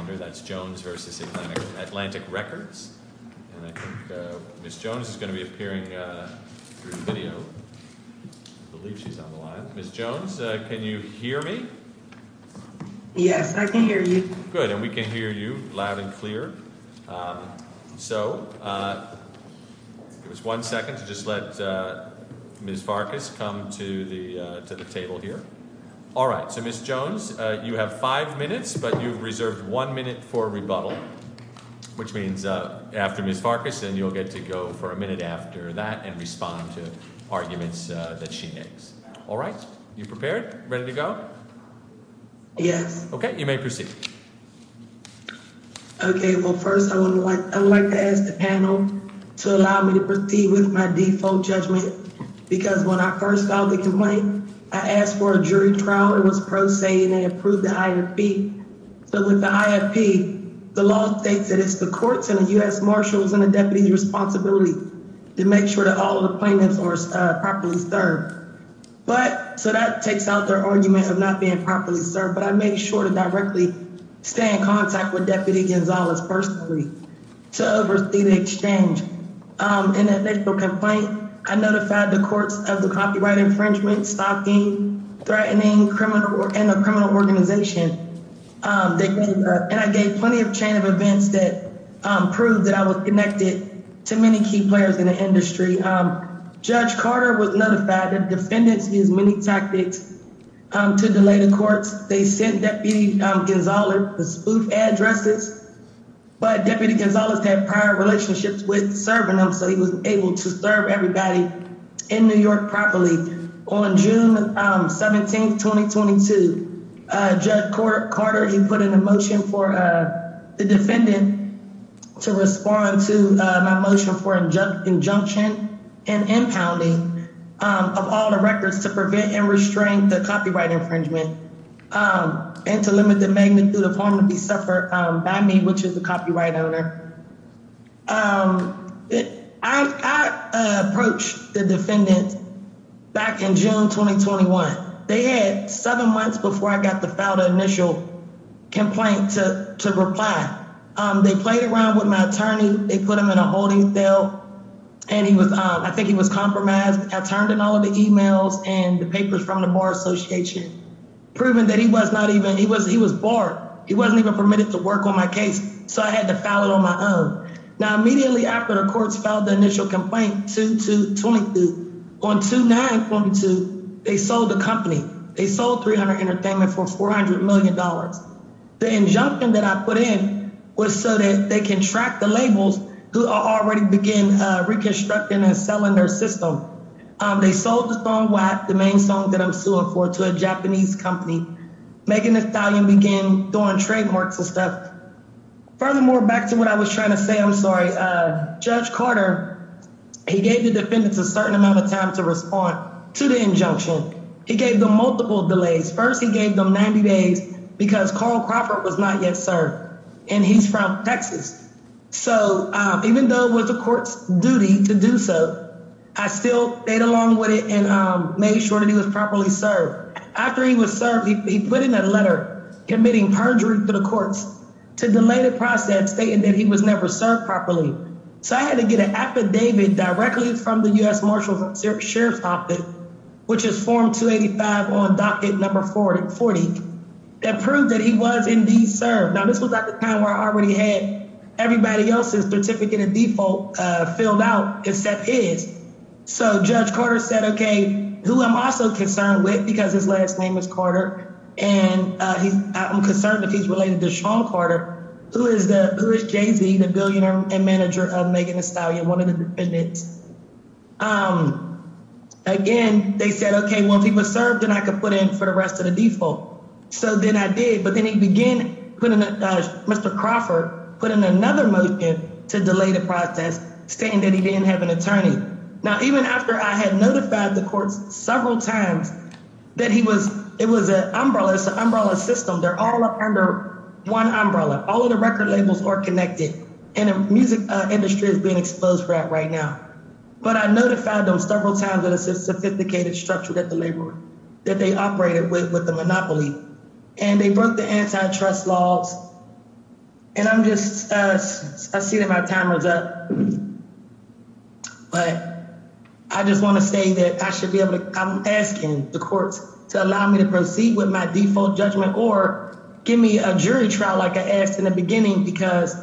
Ms. Jones is going to be appearing through the video. I believe she's on the line. Ms. Jones, can you hear me? Yes, I can hear you. Good, and we can hear you loud and clear. So, give us one second to just let Ms. Farkas come to the table here. All right, so Ms. Jones, you have five minutes, but you've reserved one minute for rebuttal, which means after Ms. Farkas and you'll get to go for a minute after that and respond to arguments that she makes. All right, you prepared? Ready to go? Yes. Okay, you may proceed. Okay, well, first I would like to ask the panel to allow me to proceed with my default judgment, because when I first filed the complaint, I asked for a jury trial. It was pro se, and they approved the IFP. So, with the IFP, the law states that it's the courts and the U.S. Marshals and the deputy's responsibility to make sure that all of the plaintiffs are properly served. So, that takes out their argument of not being properly served, but I made sure to directly stay in contact with Deputy Gonzalez personally to oversee the exchange. In the initial complaint, I notified the courts of the copyright infringement, stalking, threatening, and the criminal organization. And I gave plenty of chain of events that proved that I was connected to many key players in the industry. Judge Carter was notified that defendants used many tactics to delay the courts. They sent Deputy Gonzalez the spoof addresses, but Deputy Gonzalez had prior relationships with serving them, so he was able to serve everybody in New York properly. On June 17, 2022, Judge Carter, he put in a motion for the defendant to respond to my motion for injunction and impounding of all the records to prevent and restrain the copyright infringement, and to limit the magnitude of harm to be suffered by me, which is the copyright owner. I approached the defendant back in June 2021. They had seven months before I got to file the initial complaint to reply. They played around with my attorney. They put him in a holding cell, and he was, I think he was compromised. I turned in all of the emails and the papers from the Bar Association, proving that he was not even, he was barred. He wasn't even permitted to work on my case, so I had to file it on my own. Now, immediately after the courts filed the initial complaint, 2-2-22, on 2-9-22, they sold the company. They sold 300 Entertainment for $400 million. The injunction that I put in was so that they can track the labels who already began reconstructing and selling their system. They sold the song WAP, the main song that I'm suing for, to a Japanese company. Making the Italian begin doing trademarks and stuff. Furthermore, back to what I was trying to say, I'm sorry. Judge Carter, he gave the defendants a certain amount of time to respond to the injunction. He gave them multiple delays. First, he gave them 90 days because Karl Crawford was not yet served, and he's from Texas. So even though it was the court's duty to do so, I still stayed along with it and made sure that he was properly served. After he was served, he put in a letter committing perjury to the courts to delay the process, stating that he was never served properly. So I had to get an affidavit directly from the U.S. Marshals Sheriff's Office, which is form 285 on docket number 40, that proved that he was indeed served. Now, this was at the time where I already had everybody else's certificate of default filled out except his. So Judge Carter said, okay, who I'm also concerned with, because his last name is Carter, and I'm concerned that he's related to Sean Carter. Who is Jay-Z, the billionaire and manager of Megan and Stallion, one of the defendants? Again, they said, okay, well, if he was served, then I could put in for the rest of the default. So then I did, but then he began, Mr. Crawford, put in another motion to delay the process, stating that he didn't have an attorney. Now, even after I had notified the courts several times that it was an umbrella system, they're all under one umbrella. All of the record labels are connected, and the music industry is being exposed for that right now. But I notified them several times that it's a sophisticated structure that they operated with, with the monopoly. And they broke the antitrust laws, and I'm just – I see that my timer's up. But I just want to say that I should be able to – I'm asking the courts to allow me to proceed with my default judgment, or give me a jury trial like I asked in the beginning because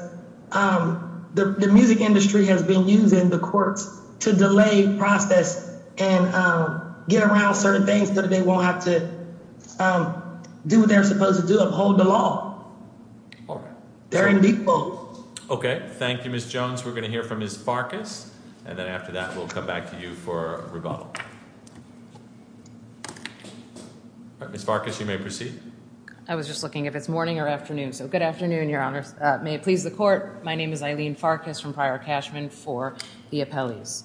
the music industry has been using the courts to delay process and get around certain things so that they won't have to do what they're supposed to do, uphold the law. They're in default. Okay. Thank you, Ms. Jones. We're going to hear from Ms. Farkas, and then after that we'll come back to you for rebuttal. Ms. Farkas, you may proceed. I was just looking if it's morning or afternoon, so good afternoon, Your Honors. May it please the court, my name is Eileen Farkas from Prior Cashman for the appellees.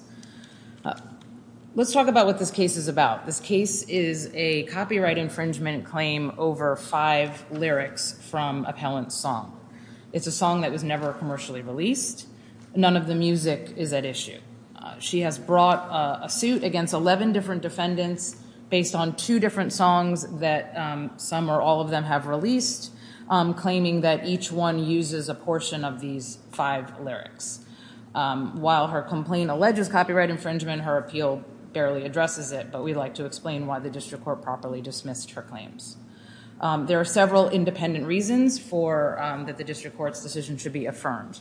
Let's talk about what this case is about. This case is a copyright infringement claim over five lyrics from appellant's song. It's a song that was never commercially released. None of the music is at issue. She has brought a suit against 11 different defendants based on two different songs that some or all of them have released, claiming that each one uses a portion of these five lyrics. While her complaint alleges copyright infringement, her appeal barely addresses it, but we'd like to explain why the district court properly dismissed her claims. There are several independent reasons that the district court's decision should be affirmed.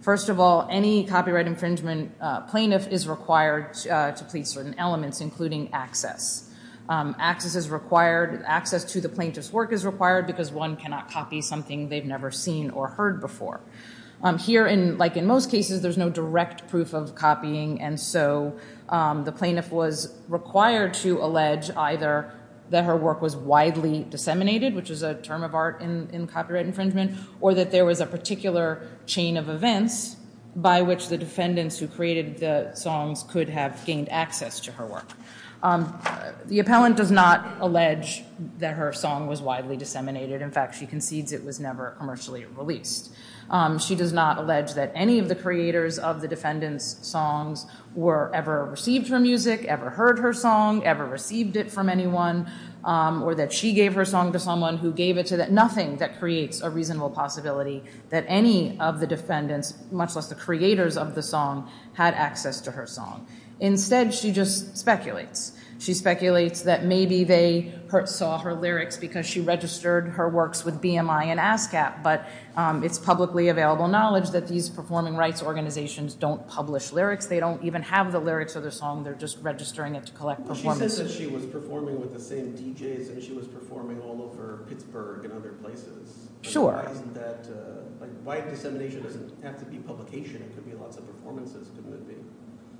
First of all, any copyright infringement plaintiff is required to plead certain elements, including access. Access to the plaintiff's work is required because one cannot copy something they've never seen or heard before. Here, like in most cases, there's no direct proof of copying, and so the plaintiff was required to allege either that her work was widely disseminated, which is a term of art in copyright infringement, or that there was a particular chain of events by which the defendants who created the songs could have gained access to her work. The appellant does not allege that her song was widely disseminated. In fact, she concedes it was never commercially released. She does not allege that any of the creators of the defendants' songs were ever received her music, ever heard her song, ever received it from anyone, or that she gave her song to someone who gave it to them. Nothing that creates a reasonable possibility that any of the defendants, much less the creators of the song, had access to her song. Instead, she just speculates. She speculates that maybe they saw her lyrics because she registered her works with BMI and ASCAP, but it's publicly available knowledge that these performing rights organizations don't publish lyrics. They don't even have the lyrics of the song. They're just registering it to collect performances. She says that she was performing with the same DJs, and she was performing all over Pittsburgh and other places. Sure. Why isn't that, like, why dissemination doesn't have to be publication? It could be lots of performances.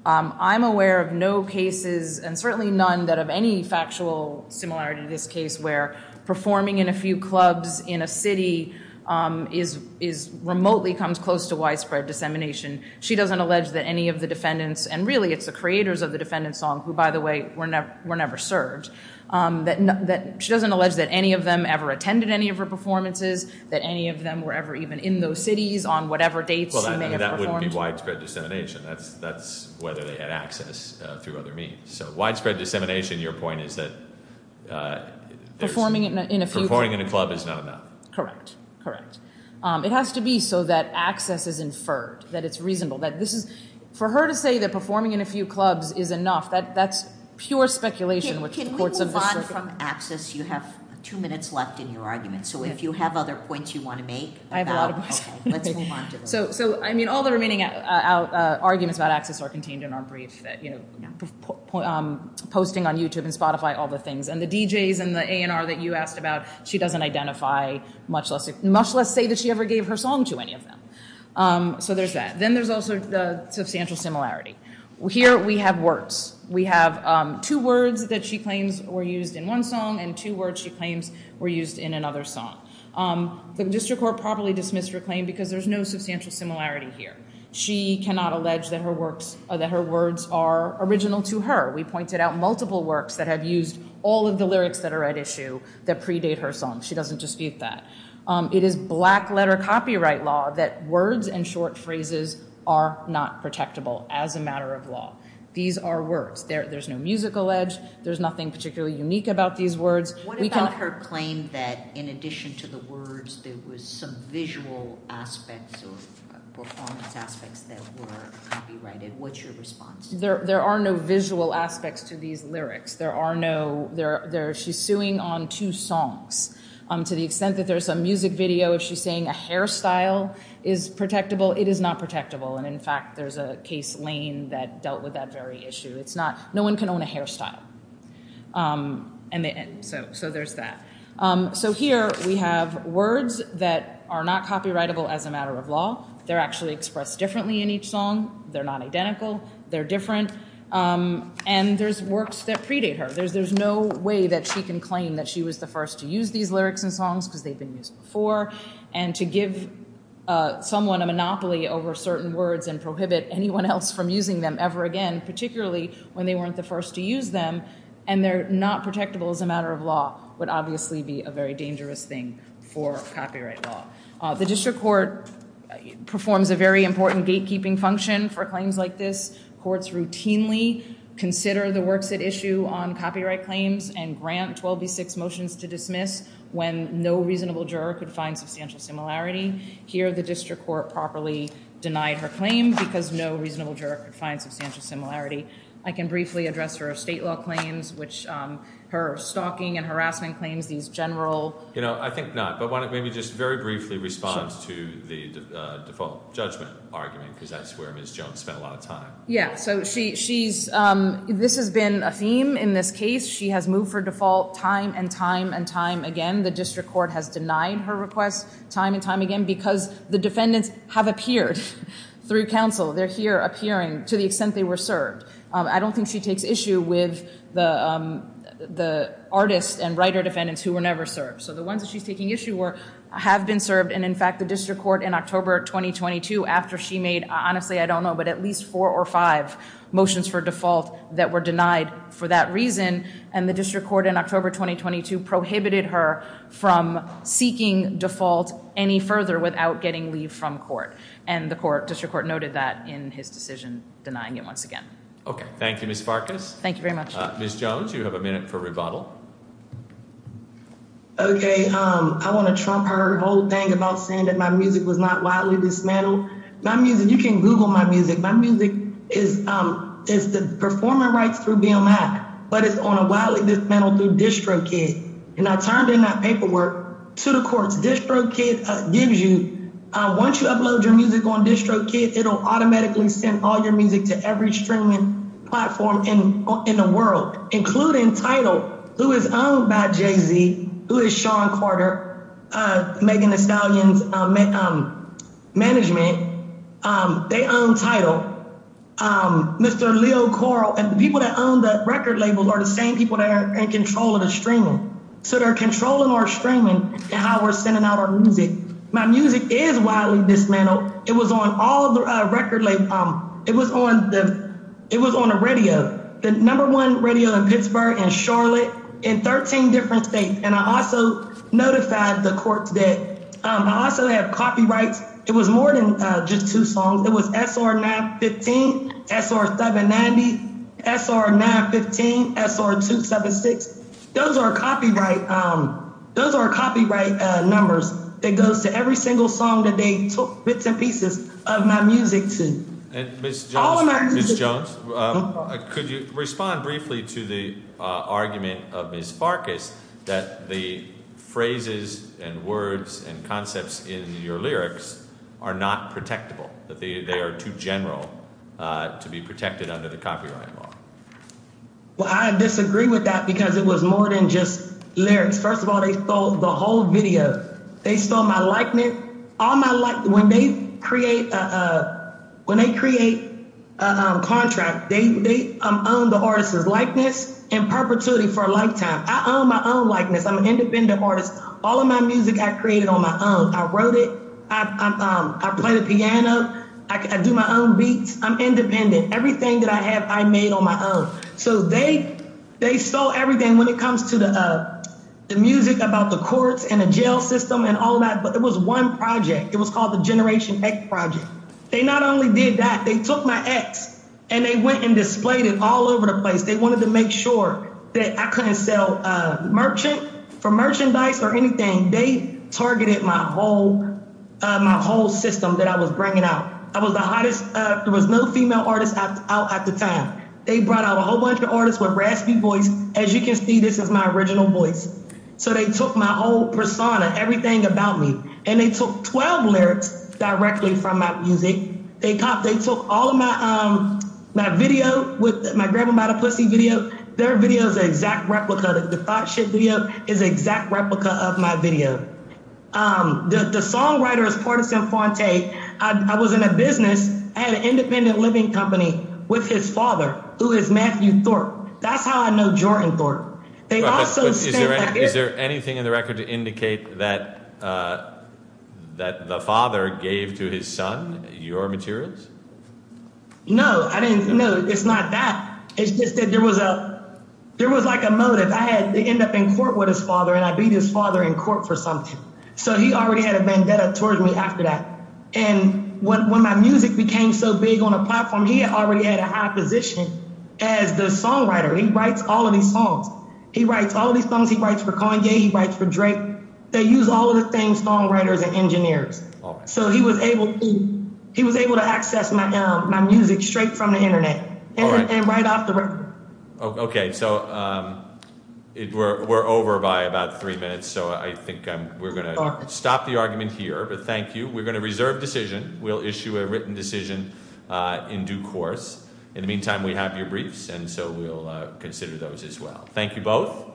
I'm aware of no cases, and certainly none that have any factual similarity to this case, where performing in a few clubs in a city is, remotely comes close to widespread dissemination. She doesn't allege that any of the defendants, and really it's the creators of the defendant's song, who, by the way, were never served. She doesn't allege that any of them ever attended any of her performances, that any of them were ever even in those cities on whatever dates she may have performed. Well, that wouldn't be widespread dissemination. That's whether they had access through other means. So widespread dissemination, your point is that there's Performing in a few Performing in a club is not enough. Correct. Correct. It has to be so that access is inferred, that it's reasonable. For her to say that performing in a few clubs is enough, that's pure speculation. Can we move on from access? You have two minutes left in your argument. So if you have other points you want to make. I have a lot of points. Let's move on to them. So, I mean, all the remaining arguments about access are contained in our brief, that, you know, posting on YouTube and Spotify, all the things. And the DJs and the A&R that you asked about, she doesn't identify, much less say that she ever gave her song to any of them. So there's that. Then there's also the substantial similarity. Here we have words. We have two words that she claims were used in one song and two words she claims were used in another song. The district court properly dismissed her claim because there's no substantial similarity here. She cannot allege that her words are original to her. We pointed out multiple works that have used all of the lyrics that are at issue that predate her song. She doesn't dispute that. It is black-letter copyright law that words and short phrases are not protectable as a matter of law. These are words. There's no musical edge. There's nothing particularly unique about these words. What about her claim that, in addition to the words, there was some visual aspects or performance aspects that were copyrighted? What's your response? There are no visual aspects to these lyrics. She's suing on two songs. To the extent that there's a music video, if she's saying a hairstyle is protectable, it is not protectable. And, in fact, there's a case, Lane, that dealt with that very issue. No one can own a hairstyle. So there's that. So here we have words that are not copyrightable as a matter of law. They're actually expressed differently in each song. They're not identical. They're different. And there's works that predate her. There's no way that she can claim that she was the first to use these lyrics and songs because they've been used before. And to give someone a monopoly over certain words and prohibit anyone else from using them ever again, particularly when they weren't the first to use them, and they're not protectable as a matter of law, would obviously be a very dangerous thing for copyright law. The district court performs a very important gatekeeping function for claims like this. Courts routinely consider the works at issue on copyright claims and grant 12B6 motions to dismiss when no reasonable juror could find substantial similarity. Here, the district court properly denied her claim because no reasonable juror could find substantial similarity. I can briefly address her estate law claims, her stalking and harassment claims, these general. You know, I think not. But maybe just very briefly respond to the default judgment argument because that's where Ms. Jones spent a lot of time. Yeah, so this has been a theme in this case. She has moved her default time and time and time again. The district court has denied her request time and time again because the defendants have appeared through counsel. They're here appearing to the extent they were served. I don't think she takes issue with the artists and writer defendants who were never served. So the ones that she's taking issue with have been served. And, in fact, the district court in October 2022, after she made, honestly, I don't know, but at least four or five motions for default that were denied for that reason, and the district court in October 2022 prohibited her from seeking default any further without getting leave from court. And the court district court noted that in his decision, denying it once again. OK, thank you, Ms. Farkas. Thank you very much. Ms. Jones, you have a minute for rebuttal. OK, I want to trump her whole thing about saying that my music was not widely dismantled. My music. You can Google my music. My music is is the performer rights through being mad. But it's on a while. It is mental distro key. And I turned in that paperwork to the courts. This broke it gives you once you upload your music on district kids, it'll automatically send all your music to every streaming platform in the world, including title. Who is owned by Jay-Z? Who is Sean Carter making the stallions management? They own title. Mr. Leo Coral and the people that own the record labels are the same people that are in control of the streaming. So they're controlling our streaming and how we're sending out our music. My music is widely dismantled. It was on all the record label. It was on the it was on a radio. The number one radio in Pittsburgh and Charlotte in 13 different states. And I also notified the courts that I also have copyrights. It was more than just two songs. It was S.R. 915, S.R. 790, S.R. 915, S.R. 276. Those are copyright. Those are copyright numbers. It goes to every single song that they took bits and pieces of my music to. Miss Jones, could you respond briefly to the argument of Ms. Farkas that the phrases and words and concepts in your lyrics are not protectable, that they are too general to be protected under the copyright law? Well, I disagree with that because it was more than just lyrics. First of all, they stole the whole video. They stole my likeness. All my life. When they create when they create a contract, they own the artist's likeness in perpetuity for a lifetime. I own my own likeness. I'm an independent artist. All of my music I created on my own. I wrote it. I play the piano. I do my own beats. I'm independent. Everything that I have, I made on my own. So they they stole everything when it comes to the music about the courts and the jail system and all that. But it was one project. It was called the Generation X Project. They not only did that, they took my ex and they went and displayed it all over the place. They wanted to make sure that I couldn't sell merchant for merchandise or anything. They targeted my whole my whole system that I was bringing out. I was the hottest. There was no female artists out at the time. They brought out a whole bunch of artists with raspy voice. As you can see, this is my original voice. So they took my whole persona, everything about me. And they took 12 lyrics directly from my music. They thought they took all of my my video with my grandmother, pussy video. Their video is exact replica. The thought should be is exact replica of my video. The songwriter is partisan. I was in a business. I had an independent living company with his father, who is Matthew Thorpe. That's how I know Jordan Thorpe. They also say, is there anything in the record to indicate that that the father gave to his son your materials? No, I didn't know. It's not that. It's just that there was a there was like a motive. Because I had to end up in court with his father and I beat his father in court for something. So he already had a vendetta towards me after that. And when my music became so big on a platform, he already had a high position as the songwriter. He writes all of these songs. He writes all of these songs. He writes for Kanye. He writes for Drake. They use all of the same songwriters and engineers. So he was able to he was able to access my music straight from the Internet and write off the record. OK, so we're over by about three minutes, so I think we're going to stop the argument here. But thank you. We're going to reserve decision. We'll issue a written decision in due course. In the meantime, we have your briefs. And so we'll consider those as well. Thank you both.